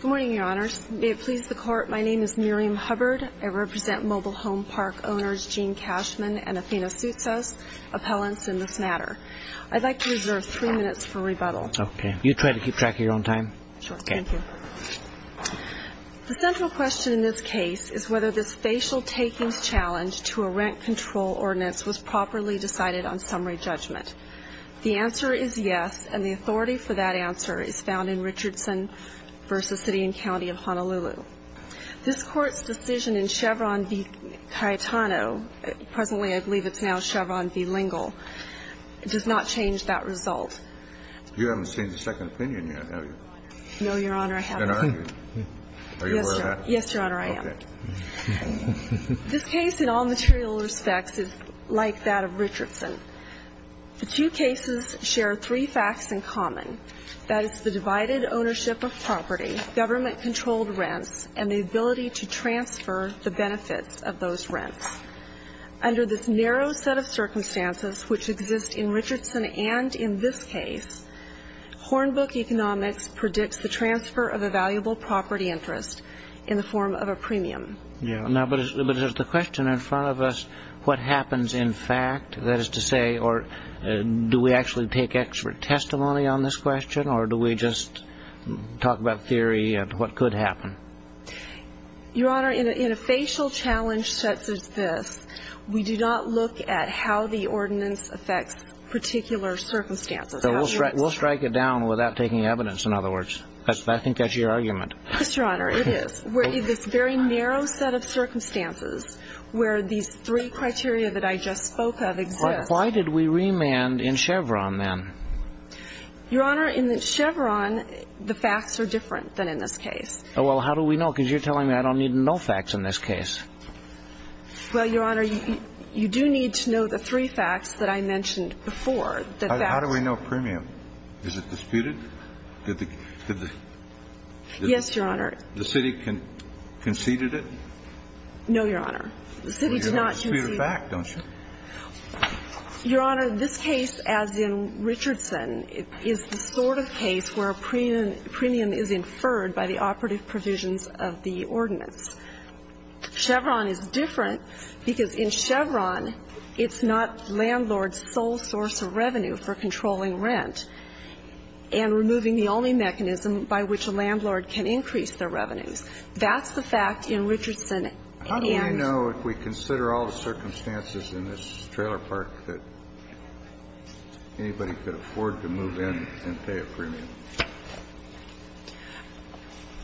Good morning, Your Honors. May it please the Court, my name is Miriam Hubbard. I represent Mobile Home Park owners Gene Cashman and Athena Soutzas, appellants in this matter. I'd like to reserve three minutes for rebuttal. Okay. You try to keep track of your own time? Sure. Thank you. The central question in this case is whether this facial takings challenge to a rent control ordinance was properly decided on summary judgment. The answer is yes, and the authority for that answer is found in Richardson v. City and County of Honolulu. This Court's decision in Chevron v. Cayetano, presently I believe it's now Chevron v. Lingle, does not change that result. You haven't seen the second opinion yet, have you? No, Your Honor. I haven't. Then are you? Are you aware of that? Yes, Your Honor, I am. Okay. This case in all common, that is the divided ownership of property, government-controlled rents, and the ability to transfer the benefits of those rents. Under this narrow set of circumstances, which exist in Richardson and in this case, Hornbook economics predicts the transfer of a valuable property interest in the form of a premium. Yeah, but the question in front of us, what happens in fact? That is to say, do we actually take expert testimony on this question, or do we just talk about theory and what could happen? Your Honor, in a facial challenge such as this, we do not look at how the ordinance affects particular circumstances. We'll strike it down without taking evidence, in other words. I think that's your argument. Yes, Your Honor, it is, where this very narrow set of circumstances where these three criteria that I just spoke of exist. Why did we remand in Chevron, then? Your Honor, in Chevron, the facts are different than in this case. Oh, well, how do we know? Because you're telling me I don't need to know facts in this case. Well, Your Honor, you do need to know the three facts that I mentioned before. How do we know premium? Is it disputed? Did the city conceded it? No, Your Honor. Well, you don't dispute a fact, don't you? Your Honor, this case, as in Richardson, is the sort of case where premium is inferred by the operative provisions of the ordinance. Chevron is different because in Chevron, it's not landlord's sole source of revenue for controlling rent and removing the only mechanism by which a landlord can increase their revenues. That's the fact in Richardson. How do we know if we consider all the circumstances in this trailer park that anybody could afford to move in and pay a premium?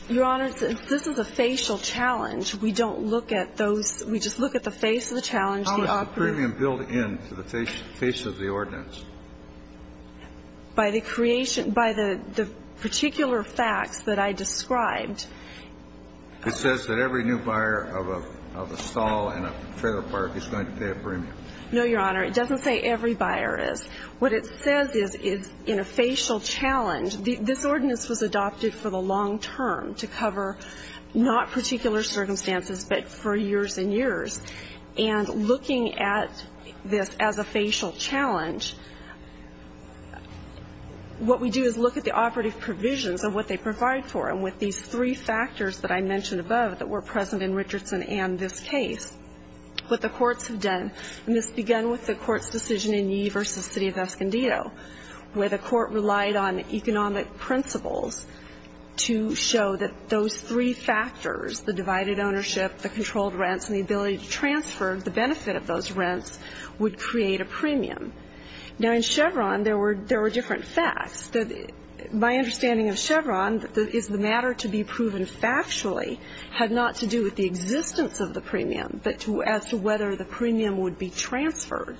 Your Honor, we don't look at the facial challenge. We don't look at those. We just look at the face of the challenge, the operative. How is the premium built in to the face of the ordinance? By the creation, by the particular facts that I described. It says that every new buyer of a stall in a trailer park is going to pay a premium. No, Your Honor. It doesn't say every buyer is. What it says is in a facial challenge, this ordinance was adopted for the long term to cover not particular circumstances but for years and years. And looking at this as a facial challenge, what we do is look at the operative provisions of what they provide for. And with these three factors that I mentioned above that were present in Richardson and this case, what the courts have done, and this began with the court's decision in Yee v. City of Escondido where the court relied on economic principles to show that those three factors, the divided ownership, the controlled rents, and the ability to transfer the benefit of those rents would create a premium. Now in Chevron, there were different facts. My understanding of Chevron is the matter to be proven factually had not to do with the existence of the premium but as to whether the premium would be transferred.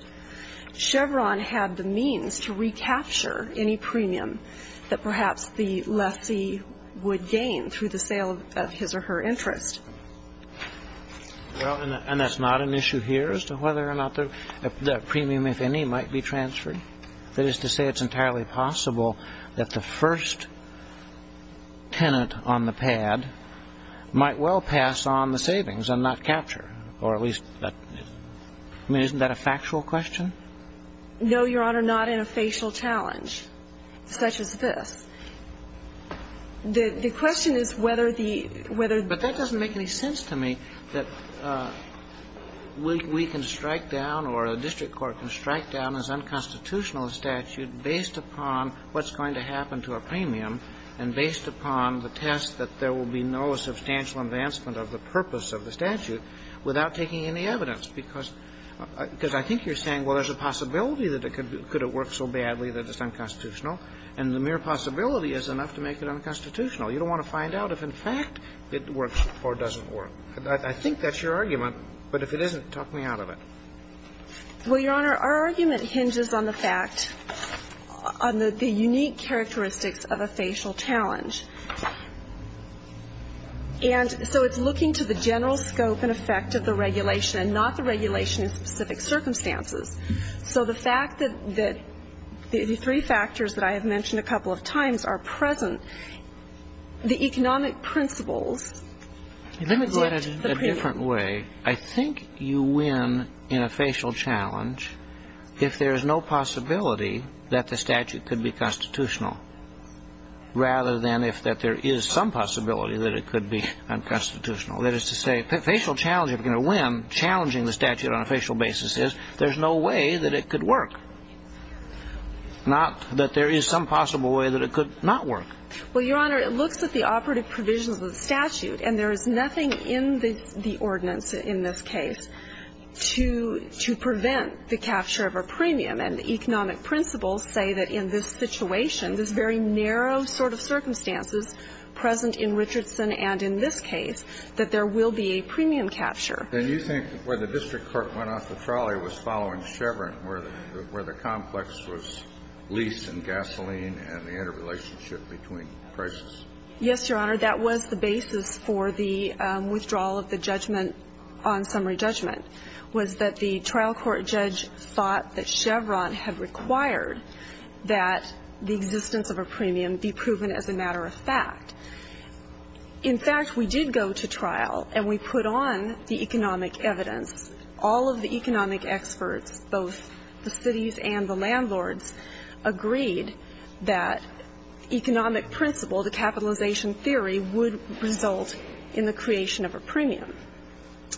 Chevron had the means to recapture any premium that perhaps the lessee would gain through the sale of his or her interest. Well, and that's not an issue here as to whether or not the premium, if any, might be transferred. That is to say it's entirely possible that the first tenant on the pad might well pass on the savings and not capture. Or at least, I mean, isn't that a factual question? No, Your Honor, not in a facial challenge such as this. The question is whether the But that doesn't make any sense to me that we can strike down or the district court can based upon what's going to happen to a premium and based upon the test that there will be no substantial advancement of the purpose of the statute without taking any evidence. Because I think you're saying, well, there's a possibility that it could work so badly that it's unconstitutional, and the mere possibility is enough to make it unconstitutional. You don't want to find out if, in fact, it works or doesn't work. I think that's your argument, but if it isn't, talk me out of it. Well, Your Honor, our argument hinges on the fact, on the unique characteristics of a facial challenge. And so it's looking to the general scope and effect of the regulation and not the regulation in specific circumstances. So the fact that the three factors that I have mentioned a couple of times are present, the economic principles reflect the premium. Let me go at it a different way. I think you win in a facial challenge if there is no possibility that the statute could be constitutional, rather than if that there is some possibility that it could be unconstitutional. That is to say, a facial challenge, if you're going to win, challenging the statute on a facial basis is there's no way that it could work, not that there is some possible way that it could not work. Well, Your Honor, it looks at the operative provisions of the statute. And there is nothing in the ordinance in this case to prevent the capture of a premium. And the economic principles say that in this situation, this very narrow sort of circumstances present in Richardson and in this case, that there will be a premium capture. Then you think where the district court went off the trolley was following Chevron, where the complex was leased in gasoline and the interrelationship between prices? Yes, Your Honor. That was the basis for the withdrawal of the judgment on summary judgment, was that the trial court judge thought that Chevron had required that the existence of a premium be proven as a matter of fact. In fact, we did go to trial and we put on the economic evidence. All of the economic experts, both the cities and the landlords, agreed that economic principle, the capitalization theory, would result in the creation of a premium.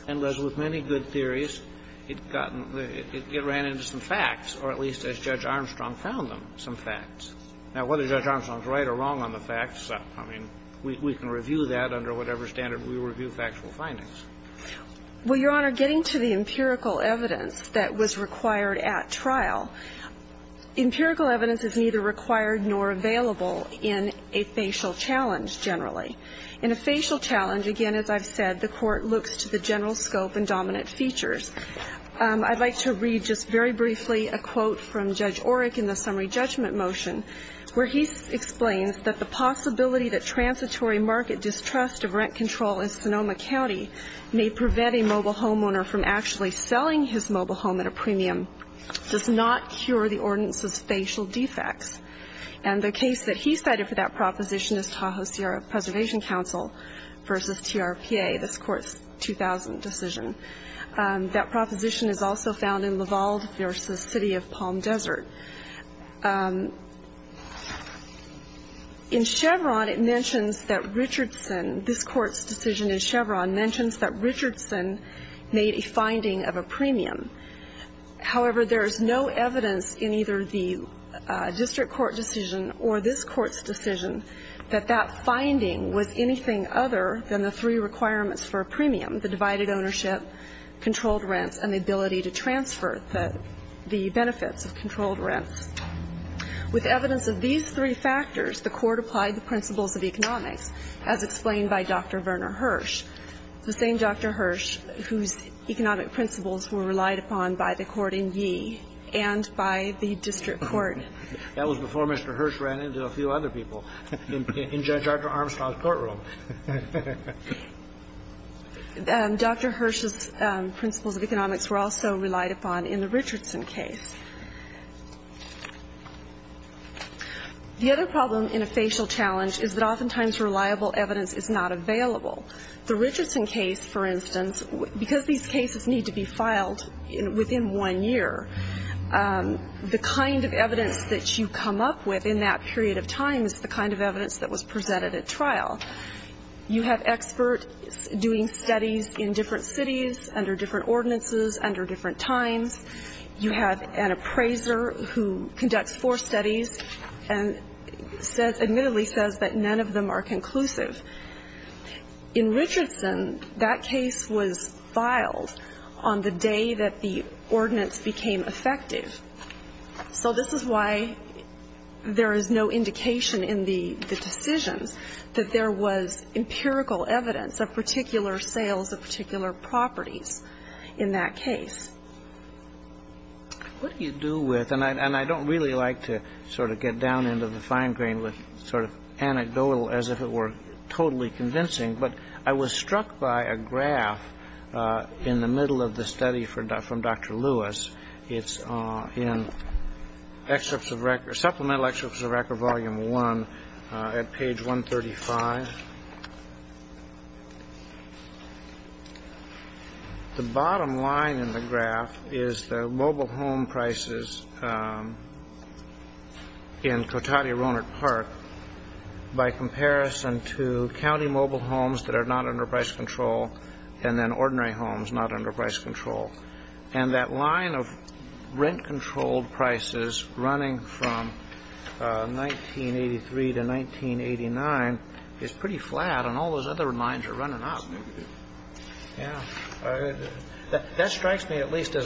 And, Liz, with many good theories, it ran into some facts, or at least as Judge Armstrong found them, some facts. Now, whether Judge Armstrong is right or wrong on the facts, I mean, we can review that under whatever standard we review factual findings. Well, Your Honor, getting to the empirical evidence that was required at trial, empirical evidence is neither required nor available in a facial challenge generally. In a facial challenge, again, as I've said, the court looks to the general scope and dominant features. I'd like to read just very briefly a quote from Judge Orrick in the summary judgment motion, where he explains that the possibility that transitory market distrust of rent control in Sonoma County may prevent a mobile homeowner from actually selling his mobile home at a premium does not cure the ordinance's facial defects. And the case that he cited for that proposition is Tahoe Sierra Preservation Council v. TRPA. That's Court's 2000 decision. That proposition is also found in Laval v. City of Palm Desert. In Chevron, it mentions that Richardson, this Court's decision in Chevron, mentions that Richardson made a finding of a premium. However, there is no evidence in either the district court decision or this Court's decision that that finding was anything other than the three requirements for a premium, the divided ownership, controlled rents, and the ability to transfer the benefits of controlled rents. With evidence of these three factors, the Court applied the principles of economics, as explained by Dr. Werner Hirsch, the same Dr. Hirsch whose economic principles were relied upon by the court in Yee and by the district court. That was before Mr. Hirsch ran into a few other people in Judge Armstrong's courtroom. Dr. Hirsch's principles of economics were also relied upon in the Richardson case. The other problem in a facial challenge is that oftentimes reliable evidence is not available. The Richardson case, for instance, because these cases need to be filed within one year, the kind of evidence that you come up with in that period of time is the kind of evidence that was presented at trial. You have experts doing studies in different cities, under different ordinances, under different times. You have an appraiser who conducts four studies and admittedly says that none of them are conclusive. In Richardson, that case was filed on the day that the ordinance became effective. So this is why there is no indication in the decisions that there was empirical evidence of particular sales of particular properties in that case. What do you do with, and I don't really like to sort of get down into the fine grain with sort of anecdotal as if it were totally convincing, but I was struck by a graph in the middle of the study from Dr. Lewis. It's in supplemental excerpts of record volume one at page 135. And the bottom line in the graph is the mobile home prices in Cotati Roanoke Park by comparison to county mobile homes that are not under price control and then ordinary homes not under price control. And that line of rent-controlled prices running from 1983 to 1989 is pretty flat and all those other lines are running up. That strikes me at least as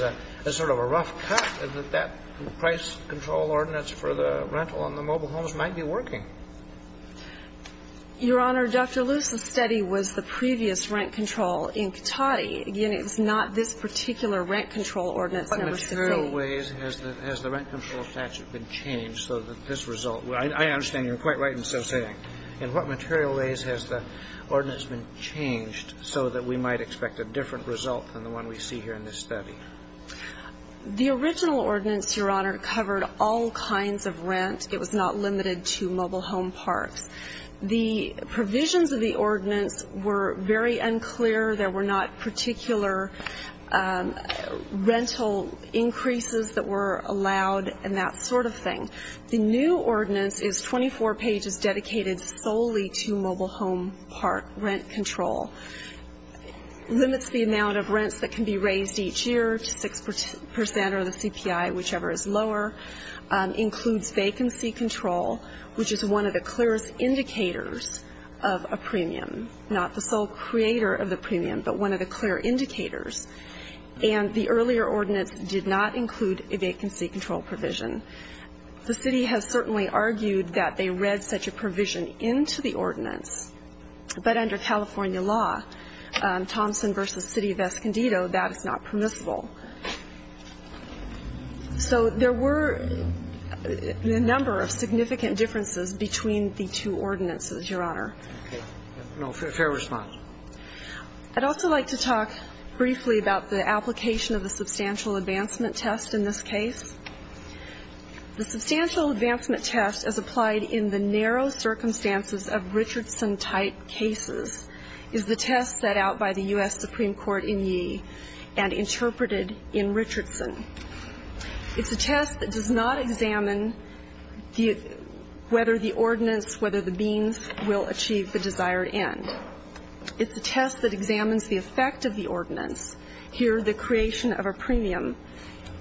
sort of a rough cut that that price control ordinance for the rental on the mobile homes might be working. Your Honor, Dr. Lewis, the study was the previous rent control in Cotati. Again, it's not this particular rent control ordinance. What material ways has the rent control statute been changed so that this result I understand you're quite right in so saying. In what material ways has the ordinance been changed so that we might expect a different result than the one we see here in this study? The original ordinance, Your Honor, covered all kinds of rent. It was not limited to mobile home parks. The provisions of the ordinance were very unclear. There were not particular rental increases that were allowed and that sort of thing. The new ordinance is 24 pages dedicated solely to mobile home park rent control, limits the amount of rents that can be raised each year to 6% or the CPI, whichever is lower, includes vacancy control, which is one of the clearest indicators of a premium, not the sole creator of the premium, but one of the clear indicators. And the earlier ordinance did not include a vacancy control provision. The city has certainly argued that they read such a provision into the ordinance, but under California law, Thompson v. City of Escondido, that is not permissible. So there were a number of significant differences between the two ordinances, Your Honor. Okay. Fair response. I'd also like to talk briefly about the application of the substantial advancement test in this case. The substantial advancement test as applied in the narrow circumstances of Richardson-type cases is the test set out by the U.S. Supreme Court in Yee and interpreted in Richardson. It's a test that does not examine whether the ordinance, whether the beams will achieve the desired end. It's a test that examines the effect of the ordinance, here the creation of a premium,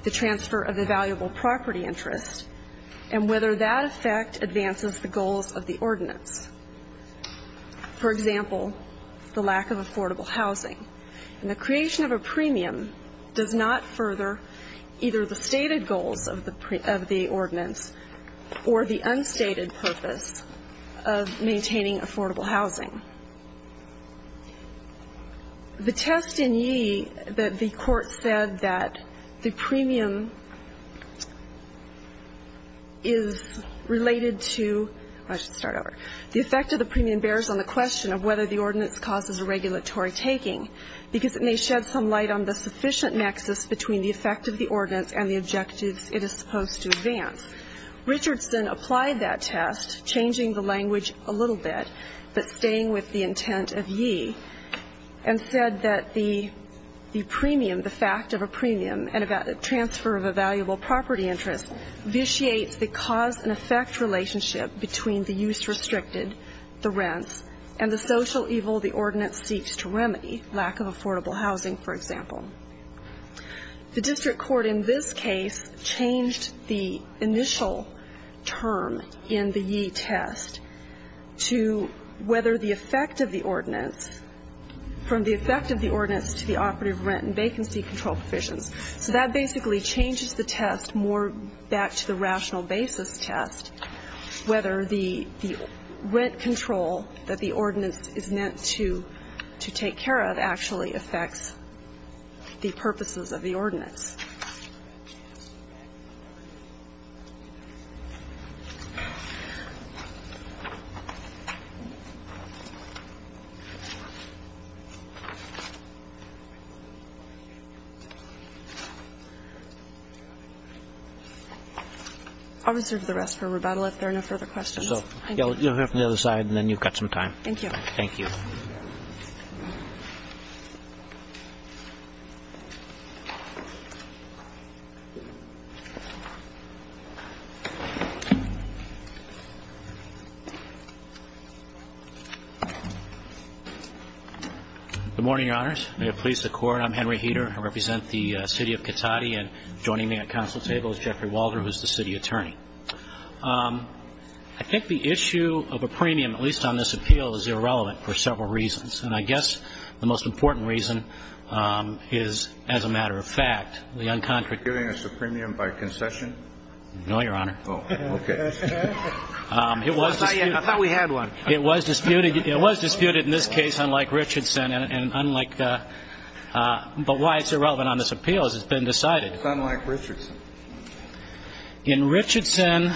the transfer of the valuable property interest, and whether that effect advances the goals of the ordinance. For example, the lack of affordable housing. And the creation of a premium does not further either the stated goals of the ordinance or the unstated purpose of maintaining affordable housing. The test in Yee, the court said that the premium is related to the effect of the premium bears on the question of whether the ordinance causes a regulatory taking because it may shed some light on the sufficient nexus between the effect of the ordinance and the objectives it is supposed to advance. Richardson applied that test, changing the language a little bit, but staying with the intent of Yee, and said that the premium, the fact of a premium and a transfer of a valuable property interest, vitiates the cause and effect relationship between the use restricted, the rents, and the social evil the ordinance seeks to remedy, lack of affordable housing, for example. The district court in this case changed the initial term in the Yee test to whether the effect of the ordinance, from the effect of the ordinance to the operative rent and vacancy control provisions. So that basically changes the test more back to the rational basis test, whether the rent control that the ordinance is meant to take care of actually affects the purposes of the ordinance. I'll reserve the rest for rebuttal if there are no further questions. You'll hear from the other side and then you've got some time. Thank you. Thank you. Good morning, Your Honors. May it please the Court, I'm Henry Heder. I represent the city of Cotati, and joining me at council table is Jeffrey Walder, who is the city attorney. I think the issue of a premium, at least on this appeal, is irrelevant for several reasons. And I guess the most important reason is, as a matter of fact, the uncontracted You're giving us a premium by concession? No, Your Honor. Oh, okay. It was disputed. I thought we had one. It was disputed. It was disputed in this case, unlike Richardson. But why it's irrelevant on this appeal has been decided. It's unlike Richardson. In Richardson,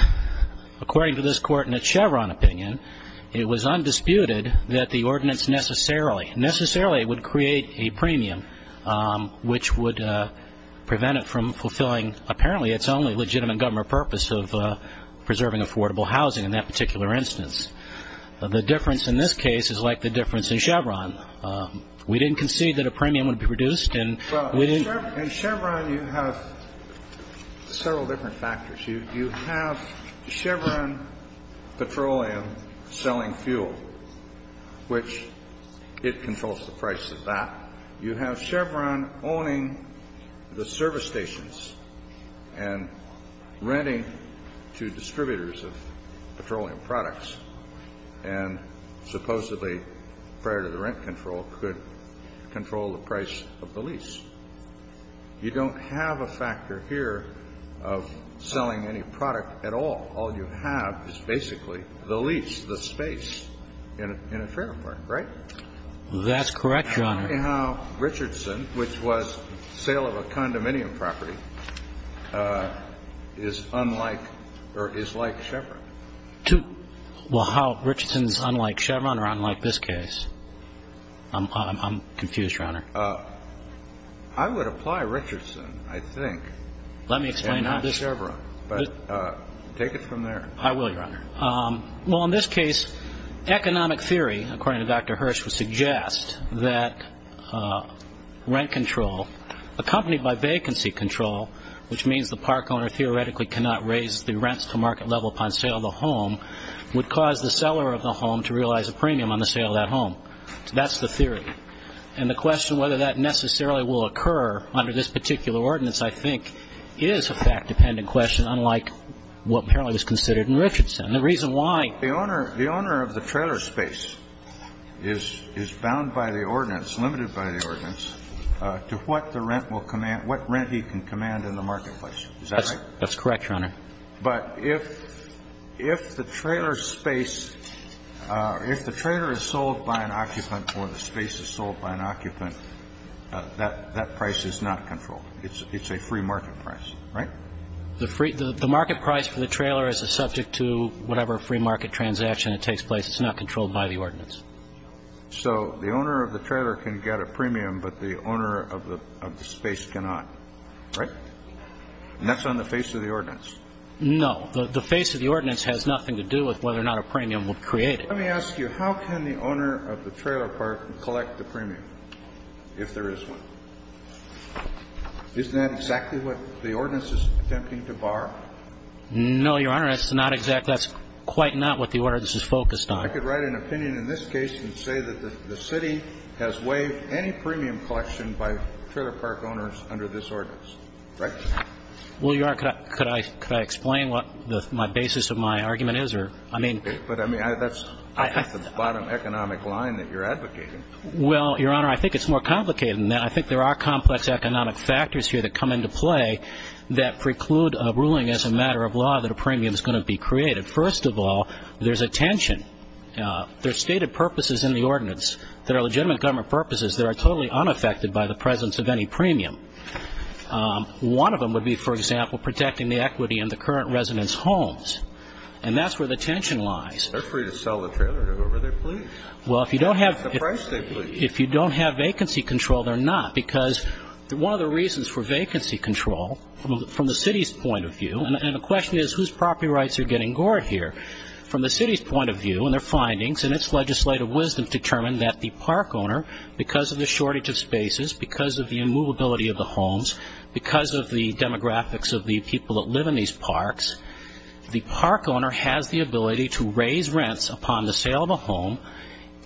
according to this Court, in a Chevron opinion, it was undisputed that the ordinance necessarily would create a premium, which would prevent it from fulfilling apparently its only legitimate government purpose of preserving affordable housing in that particular instance. The difference in this case is like the difference in Chevron. We didn't concede that a premium would be produced. In Chevron, you have several different factors. You have Chevron Petroleum selling fuel, which it controls the price of that. You have Chevron owning the service stations and renting to distributors of petroleum and supposedly, prior to the rent control, could control the price of the lease. You don't have a factor here of selling any product at all. All you have is basically the lease, the space in a fair apartment, right? That's correct, Your Honor. Tell me how Richardson, which was sale of a condominium property, is unlike or is like Chevron. Well, how Richardson is unlike Chevron or unlike this case? I'm confused, Your Honor. I would apply Richardson, I think, and not Chevron, but take it from there. I will, Your Honor. Well, in this case, economic theory, according to Dr. Hirsch, would suggest that rent control, accompanied by vacancy control, which means the park owner theoretically cannot raise the rents to market level upon sale of the home, would cause the seller of the home to realize a premium on the sale of that home. That's the theory. And the question whether that necessarily will occur under this particular ordinance, I think, is a fact-dependent question, unlike what apparently was considered in Richardson. The reason why the owner of the trailer space is bound by the ordinance, limited by the ordinance, to what the rent will command, what rent he can command in the marketplace. Is that right? That's correct, Your Honor. But if the trailer space or if the trailer is sold by an occupant or the space is sold by an occupant, that price is not controlled. It's a free market price, right? The market price for the trailer is subject to whatever free market transaction that takes place. It's not controlled by the ordinance. So the owner of the trailer can get a premium, but the owner of the space cannot, right? And that's on the face of the ordinance. No. The face of the ordinance has nothing to do with whether or not a premium would create it. Let me ask you, how can the owner of the trailer park collect the premium, if there is one? Isn't that exactly what the ordinance is attempting to bar? No, Your Honor. That's not exactly. That's quite not what the ordinance is focused on. I could write an opinion in this case and say that the city has waived any premium collection by trailer park owners under this ordinance, right? Well, Your Honor, could I explain what my basis of my argument is? But, I mean, that's the bottom economic line that you're advocating. Well, Your Honor, I think it's more complicated than that. I think there are complex economic factors here that come into play that preclude a ruling as a matter of law that a premium is going to be created. First of all, there's a tension. There are stated purposes in the ordinance that are legitimate government purposes that are totally unaffected by the presence of any premium. One of them would be, for example, protecting the equity in the current residents' homes. And that's where the tension lies. They're free to sell the trailer to whoever they please. Well, if you don't have vacancy control, they're not. Because one of the reasons for vacancy control, from the city's point of view, and the question is whose property rights are getting gored here? From the city's point of view and their findings and its legislative wisdom, determine that the park owner, because of the shortage of spaces, because of the immovability of the homes, because of the demographics of the people that live in these parks, the park owner has the ability to raise rents upon the sale of a home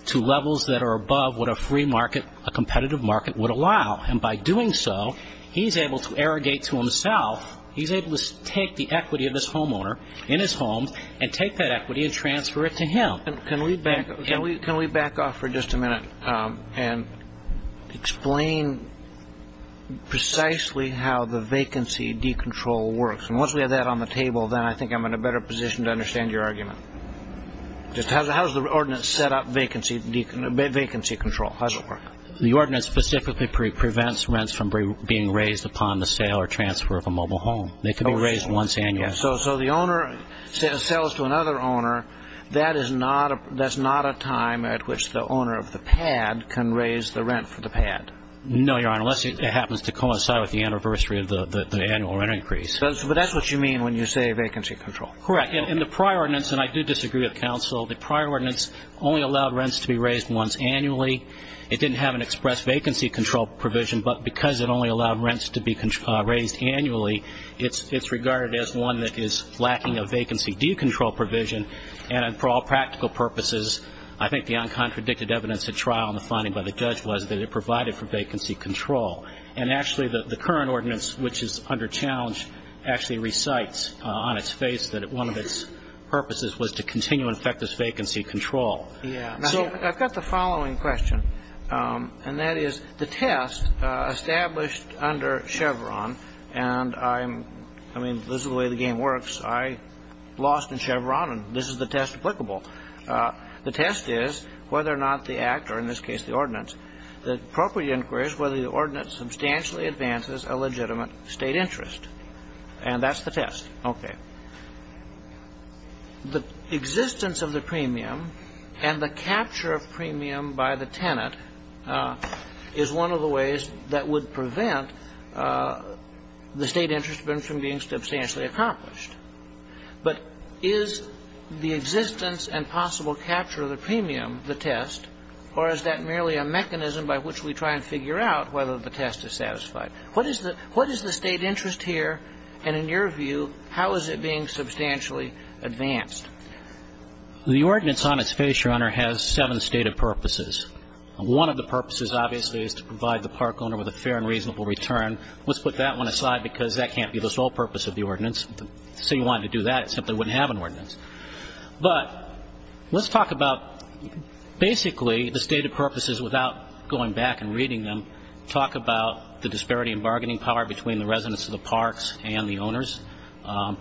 to levels that are above what a free market, a competitive market, would allow. And by doing so, he's able to arrogate to himself. He's able to take the equity of his homeowner in his home and take that equity and transfer it to him. Can we back off for just a minute and explain precisely how the vacancy decontrol works? And once we have that on the table, then I think I'm in a better position to understand your argument. Just how does the ordinance set up vacancy control? How does it work? The ordinance specifically prevents rents from being raised upon the sale or transfer of a mobile home. They can be raised once annually. So the owner sells to another owner. That is not a time at which the owner of the pad can raise the rent for the pad. No, Your Honor, unless it happens to coincide with the anniversary of the annual rent increase. But that's what you mean when you say vacancy control. Correct. In the prior ordinance, and I do disagree with counsel, the prior ordinance only allowed rents to be raised once annually. It didn't have an express vacancy control provision. But because it only allowed rents to be raised annually, it's regarded as one that is lacking a vacancy decontrol provision. And for all practical purposes, I think the uncontradicted evidence at trial in the finding by the judge was that it provided for vacancy control. And actually, the current ordinance, which is under challenge, actually recites on its face that one of its purposes was to continue infectious vacancy control. Yeah. So I've got the following question, and that is the test established under Chevron, and I'm, I mean, this is the way the game works. I lost in Chevron, and this is the test applicable. The test is whether or not the act, or in this case the ordinance, the appropriate inquiry is whether the ordinance substantially advances a legitimate State interest. And that's the test. Okay. The existence of the premium and the capture of premium by the tenant is one of the ways that would prevent the State interest from being substantially accomplished. But is the existence and possible capture of the premium the test, or is that merely a mechanism by which we try and figure out whether the test is satisfied? What is the State interest here? And in your view, how is it being substantially advanced? The ordinance on its face, Your Honor, has seven stated purposes. One of the purposes, obviously, is to provide the park owner with a fair and reasonable return. Let's put that one aside because that can't be the sole purpose of the ordinance. Say you wanted to do that, it simply wouldn't have an ordinance. But let's talk about basically the stated purposes without going back and reading them. Talk about the disparity in bargaining power between the residents of the parks and the owners.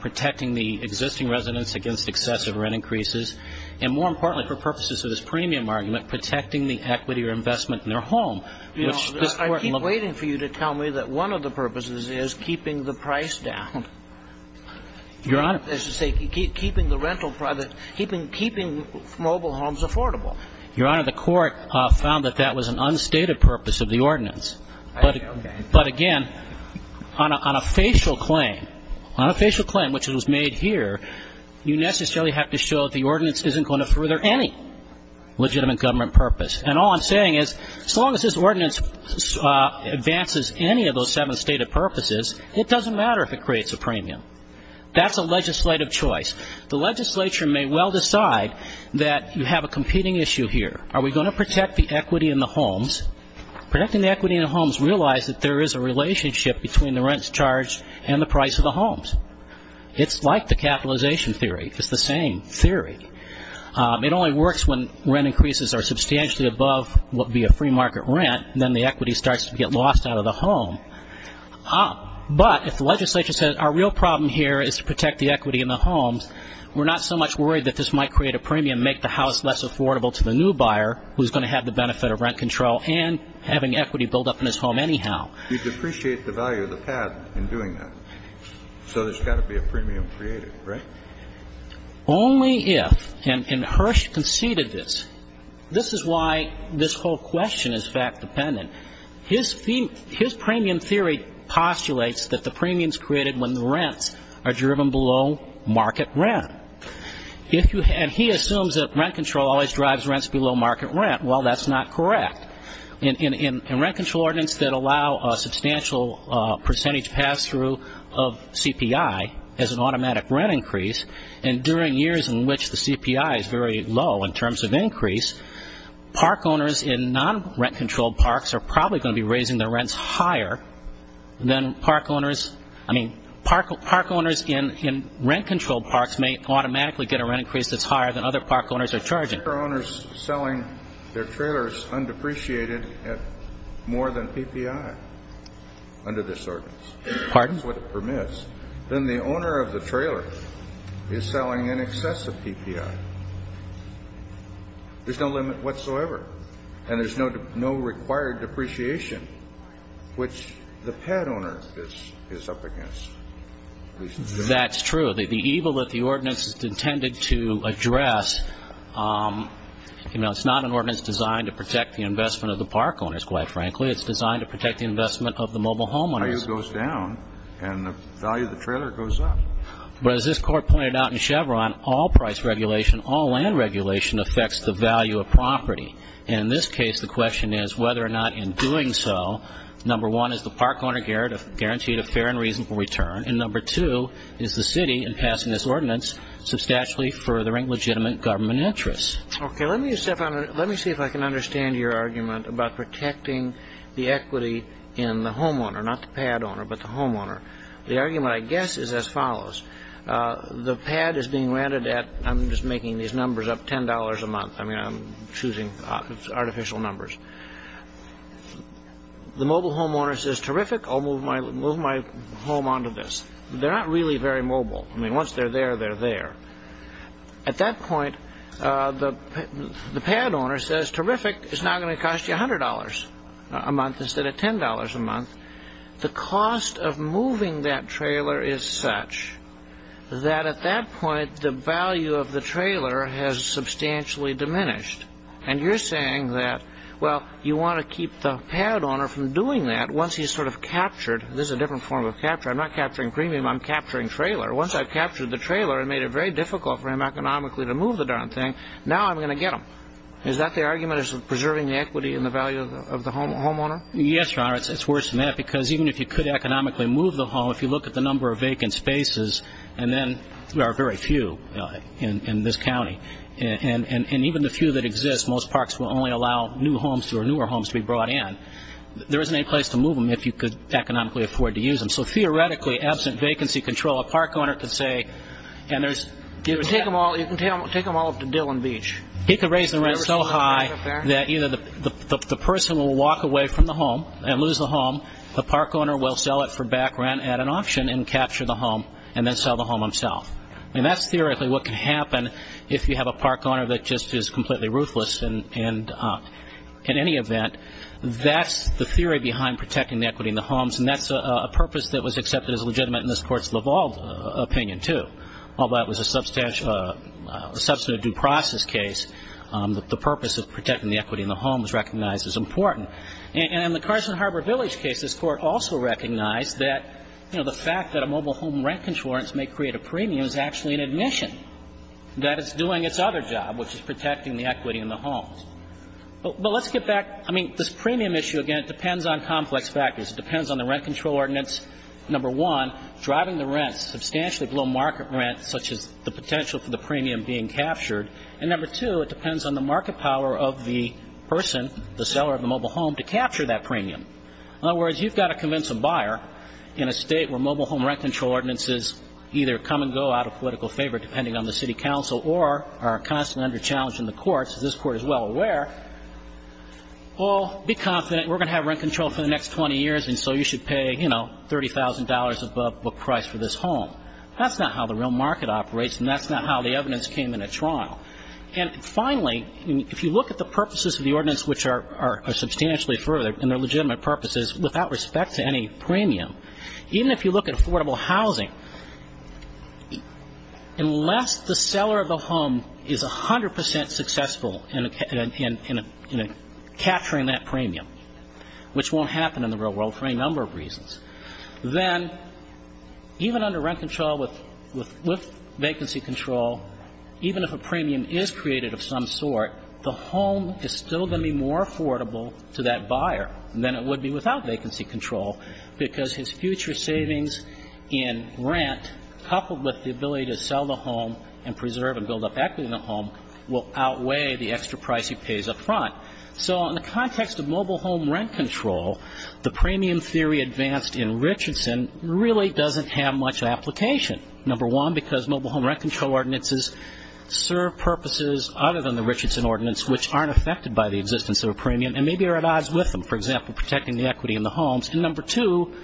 Protecting the existing residents against excessive rent increases. And more importantly for purposes of this premium argument, protecting the equity or investment in their home. I keep waiting for you to tell me that one of the purposes is keeping the price down. Your Honor. As you say, keeping the rental private, keeping mobile homes affordable. Your Honor, the court found that that was an unstated purpose of the ordinance. Okay. But again, on a facial claim, on a facial claim, which was made here, you necessarily have to show that the ordinance isn't going to further any legitimate government purpose. And all I'm saying is as long as this ordinance advances any of those seven stated purposes, it doesn't matter if it creates a premium. That's a legislative choice. The legislature may well decide that you have a competing issue here. Are we going to protect the equity in the homes? Protecting the equity in the homes, realize that there is a relationship between the rents charged and the price of the homes. It's like the capitalization theory. It's the same theory. It only works when rent increases are substantially above what would be a free market rent. Then the equity starts to get lost out of the home. But if the legislature says our real problem here is to protect the equity in the homes, we're not so much worried that this might create a premium, make the house less affordable to the new buyer, who's going to have the benefit of rent control and having equity build up in his home anyhow. You depreciate the value of the patent in doing that. So there's got to be a premium created, right? Only if, and Hirsch conceded this. This is why this whole question is fact dependent. His premium theory postulates that the premium is created when the rents are driven below market rent. And he assumes that rent control always drives rents below market rent. Well, that's not correct. In rent control ordinance that allow a substantial percentage pass-through of CPI as an automatic rent increase, and during years in which the CPI is very low in terms of increase, park owners in non-rent-controlled parks are probably going to be raising their rents higher than park owners. I mean, park owners in rent-controlled parks may automatically get a rent increase that's higher than other park owners are charging. If there are owners selling their trailers undepreciated at more than PPI under this ordinance, that's what it permits, then the owner of the trailer is selling in excess of PPI. There's no limit whatsoever. And there's no required depreciation, which the pet owner is up against. That's true. The evil that the ordinance is intended to address, you know, it's not an ordinance designed to protect the investment of the park owners, quite frankly. It's designed to protect the investment of the mobile homeowners. The value goes down, and the value of the trailer goes up. But as this court pointed out in Chevron, all price regulation, all land regulation affects the value of property. And in this case, the question is whether or not in doing so, number one, is the park owner guaranteed a fair and reasonable return, and number two, is the city, in passing this ordinance, substantially furthering legitimate government interests. Okay. Let me see if I can understand your argument about protecting the equity in the homeowner, not the pad owner, but the homeowner. The argument, I guess, is as follows. The pad is being ranted at, I'm just making these numbers up, $10 a month. I mean, I'm choosing artificial numbers. The mobile homeowner says, terrific, I'll move my home onto this. They're not really very mobile. I mean, once they're there, they're there. At that point, the pad owner says, terrific, it's now going to cost you $100 a month instead of $10 a month. The cost of moving that trailer is such that at that point, the value of the trailer has substantially diminished. And you're saying that, well, you want to keep the pad owner from doing that once he's sort of captured. This is a different form of capture. I'm not capturing premium. I'm capturing trailer. Once I've captured the trailer and made it very difficult for him economically to move the darn thing, now I'm going to get him. Is that the argument as to preserving the equity and the value of the homeowner? Yes, Your Honor. It's worse than that because even if you could economically move the home, if you look at the number of vacant spaces, and then there are very few in this county, and even the few that exist, most parks will only allow new homes or newer homes to be brought in, there isn't any place to move them if you could economically afford to use them. So theoretically, absent vacancy control, a park owner could say, and there's – You can take them all up to Dillon Beach. He could raise the rent so high that either the person will walk away from the home and lose the home, the park owner will sell it for back rent at an auction and capture the home and then sell the home himself. And that's theoretically what can happen if you have a park owner that just is completely ruthless in any event. That's the theory behind protecting the equity in the homes, and that's a purpose that was accepted as legitimate in this Court's Leval opinion too, although that was a substantive due process case, that the purpose of protecting the equity in the homes was recognized as important. And in the Carson Harbor Village case, this Court also recognized that, you know, the fact that a mobile home rent control ordinance may create a premium is actually an admission, that it's doing its other job, which is protecting the equity in the homes. But let's get back – I mean, this premium issue, again, it depends on complex factors. It depends on the rent control ordinance, number one, driving the rents substantially below market rent, such as the potential for the premium being captured, and number two, it depends on the market power of the person, the seller of the mobile home, to capture that premium. In other words, you've got to convince a buyer in a state where mobile home rent control ordinances either come and go out of political favor depending on the city council or are constantly under challenge in the courts, as this Court is well aware, well, be confident, we're going to have rent control for the next 20 years, and so you should pay, you know, $30,000 above book price for this home. That's not how the real market operates, and that's not how the evidence came in at trial. And finally, if you look at the purposes of the ordinance, which are substantially further, and they're legitimate purposes, without respect to any premium, even if you look at affordable housing, unless the seller of the home is 100 percent successful in capturing that premium, which won't happen in the real world for any number of reasons, then even under rent control with vacancy control, even if a premium is created of some sort, the home is still going to be more affordable to that buyer than it would be without vacancy control because his future savings in rent coupled with the ability to sell the home and preserve and build up equity in the home will outweigh the extra price he pays up front. So in the context of mobile home rent control, the premium theory advanced in Richardson really doesn't have much application. Number one, because mobile home rent control ordinances serve purposes other than the Richardson ordinance, which aren't affected by the existence of a premium and maybe are at odds with them, for example, protecting the equity in the homes. And number two,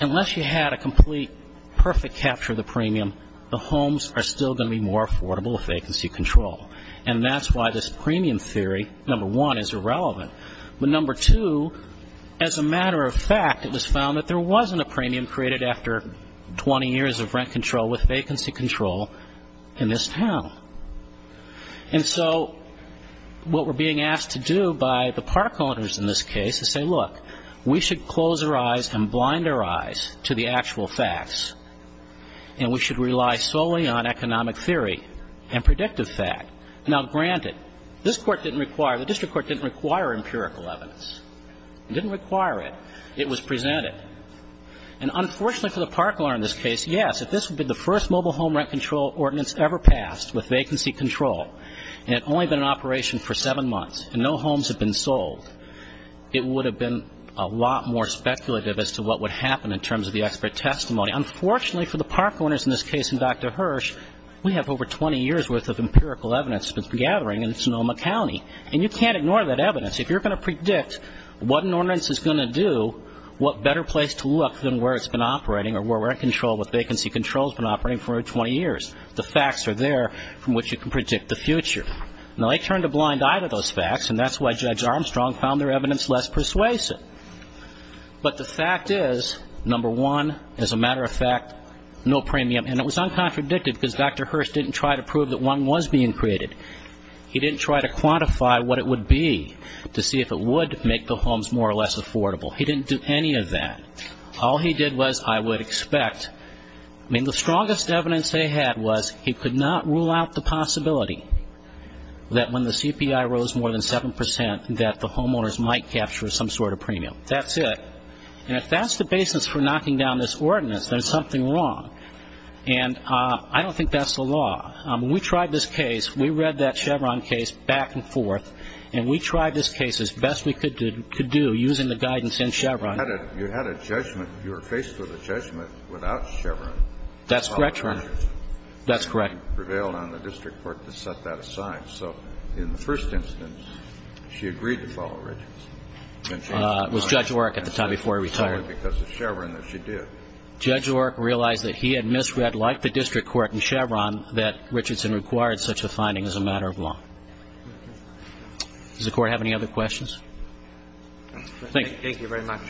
unless you had a complete, perfect capture of the premium, the homes are still going to be more affordable with vacancy control. And that's why this premium theory, number one, is irrelevant. But number two, as a matter of fact, it was found that there wasn't a premium created after 20 years of rent control with vacancy control in this town. And so what we're being asked to do by the park owners in this case is say, look, we should close our eyes and blind our eyes to the actual facts, and we should rely solely on economic theory and predictive fact. Now, granted, this court didn't require, the district court didn't require empirical evidence. It didn't require it. It was presented. And unfortunately for the park owner in this case, yes, if this would be the first mobile home rent control ordinance ever passed with vacancy control and it had only been in operation for seven months and no homes had been sold, it would have been a lot more speculative as to what would happen in terms of the expert testimony. Unfortunately for the park owners in this case and Dr. Hirsch, we have over 20 years' worth of empirical evidence that's been gathering in Sonoma County, and you can't ignore that evidence. If you're going to predict what an ordinance is going to do, what better place to look than where it's been operating or where we're in control with vacancy control has been operating for over 20 years. The facts are there from which you can predict the future. Now, they turned a blind eye to those facts, and that's why Judge Armstrong found their evidence less persuasive. But the fact is, number one, as a matter of fact, no premium. And it was uncontradictive because Dr. Hirsch didn't try to prove that one was being created. He didn't try to quantify what it would be to see if it would make the homes more or less affordable. He didn't do any of that. All he did was, I would expect, I mean, the strongest evidence they had was he could not rule out the possibility that when the CPI rose more than 7 percent that the homeowners might capture some sort of premium. That's it. And if that's the basis for knocking down this ordinance, there's something wrong. And I don't think that's the law. When we tried this case, we read that Chevron case back and forth, and we tried this case as best we could do using the guidance in Chevron. You had a judgment. You were faced with a judgment without Chevron. That's correct, Your Honor. And you prevailed on the district court to set that aside. So in the first instance, she agreed to follow Richardson. It was Judge Oreck at the time before he retired. Because of Chevron that she did. Judge Oreck realized that he had misread, like the district court in Chevron, that Richardson required such a finding as a matter of law. Does the Court have any other questions? Thank you. Thank you very much.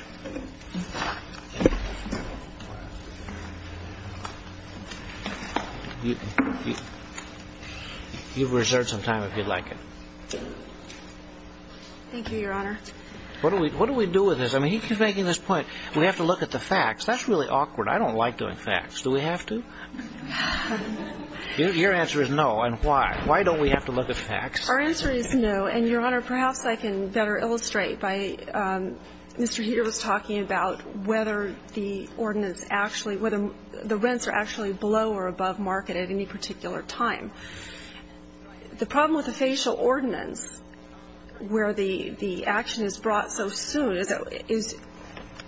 You've reserved some time if you'd like it. Thank you, Your Honor. What do we do with this? I mean, he keeps making this point, we have to look at the facts. That's really awkward. I don't like doing facts. Do we have to? Your answer is no. And why? Why don't we have to look at facts? Our answer is no. And, Your Honor, perhaps I can better illustrate by Mr. Heeter was talking about whether the ordinance actually – whether the rents are actually below or above market at any particular time. The problem with a facial ordinance where the action is brought so soon is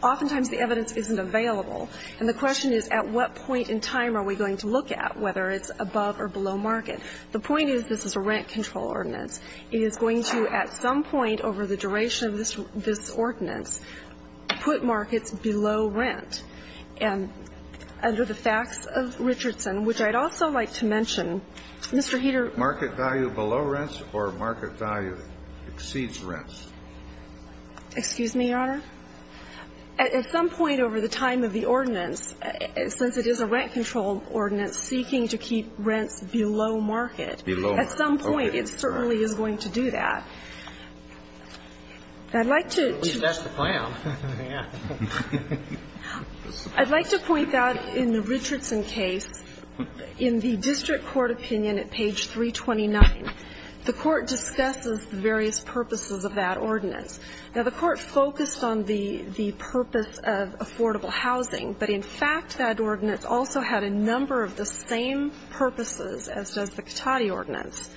oftentimes the evidence isn't available. And the question is, at what point in time are we going to look at whether it's above or below market? The point is, this is a rent control ordinance. It is going to, at some point over the duration of this ordinance, put markets below rent. And under the facts of Richardson, which I'd also like to mention, Mr. Heeter – Market value below rents or market value exceeds rents? Excuse me, Your Honor? At some point over the time of the ordinance, since it is a rent control ordinance seeking to keep rents below market, at some point it certainly is going to do that. I'd like to – At least that's the plan. Yeah. I'd like to point out in the Richardson case, in the district court opinion at page 1, the court focused on the purpose of affordable housing. But in fact, that ordinance also had a number of the same purposes as does the Cotati ordinance.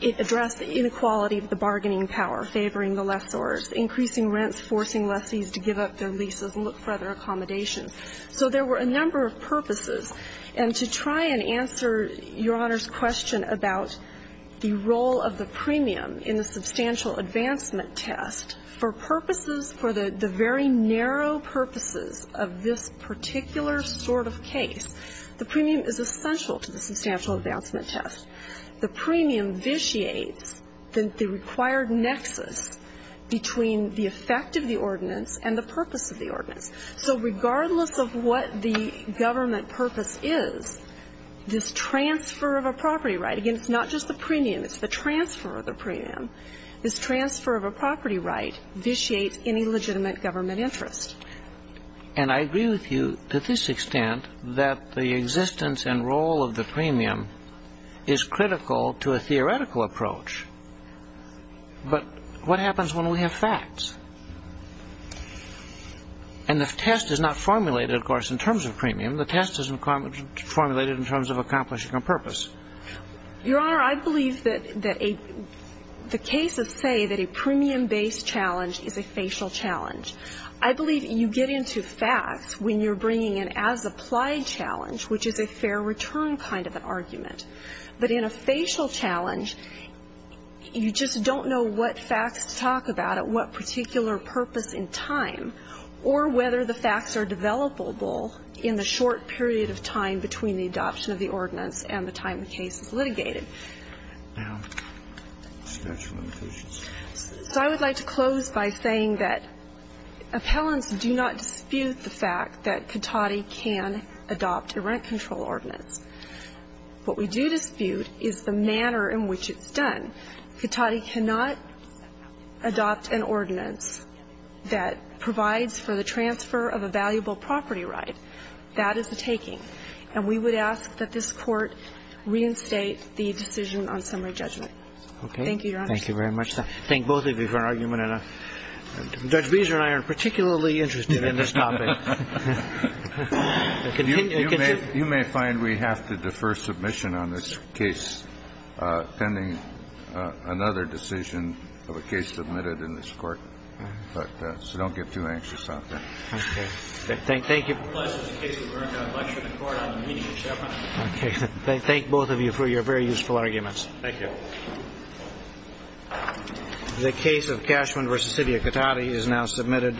It addressed the inequality of the bargaining power, favoring the lessors, increasing rents, forcing lessees to give up their leases and look for other accommodations. So there were a number of purposes. And to try and answer Your Honor's question about the role of the premium in the substantial advancement test, for purposes – for the very narrow purposes of this particular sort of case, the premium is essential to the substantial advancement test. The premium vitiates the required nexus between the effect of the ordinance and the purpose of the ordinance. So regardless of what the government purpose is, this transfer of a property right – again, it's not just the premium. It's the transfer of the premium. This transfer of a property right vitiates any legitimate government interest. And I agree with you to this extent that the existence and role of the premium is critical to a theoretical approach. But what happens when we have facts? And the test is not formulated, of course, in terms of premium. The test is formulated in terms of accomplishing a purpose. Your Honor, I believe that a – the cases say that a premium-based challenge is a facial challenge. I believe you get into facts when you're bringing an as-applied challenge, which is a fair return kind of an argument. But in a facial challenge, you just don't know what facts to talk about at what particular purpose in time or whether the facts are developable in the short period of time between the adoption of the ordinance and the time the case is litigated. So I would like to close by saying that appellants do not dispute the fact that Katady can adopt a rent control ordinance. What we do dispute is the manner in which it's done. Katady cannot adopt an ordinance that provides for the transfer of a valuable property right. That is the taking. And we would ask that this Court reinstate the decision on summary judgment. Thank you, Your Honor. Roberts. Thank you very much. I thank both of you for your argument. And Judge Beezer and I are particularly interested in this topic. You may find we have to defer submission on this case pending another decision of a case submitted in this Court. So don't get too anxious out there. Thank you. It's a pleasure to be here in the Court on the meeting of Chevron. I thank both of you for your very useful arguments. Thank you. The case of Cashman v. City of Katady is now submitted.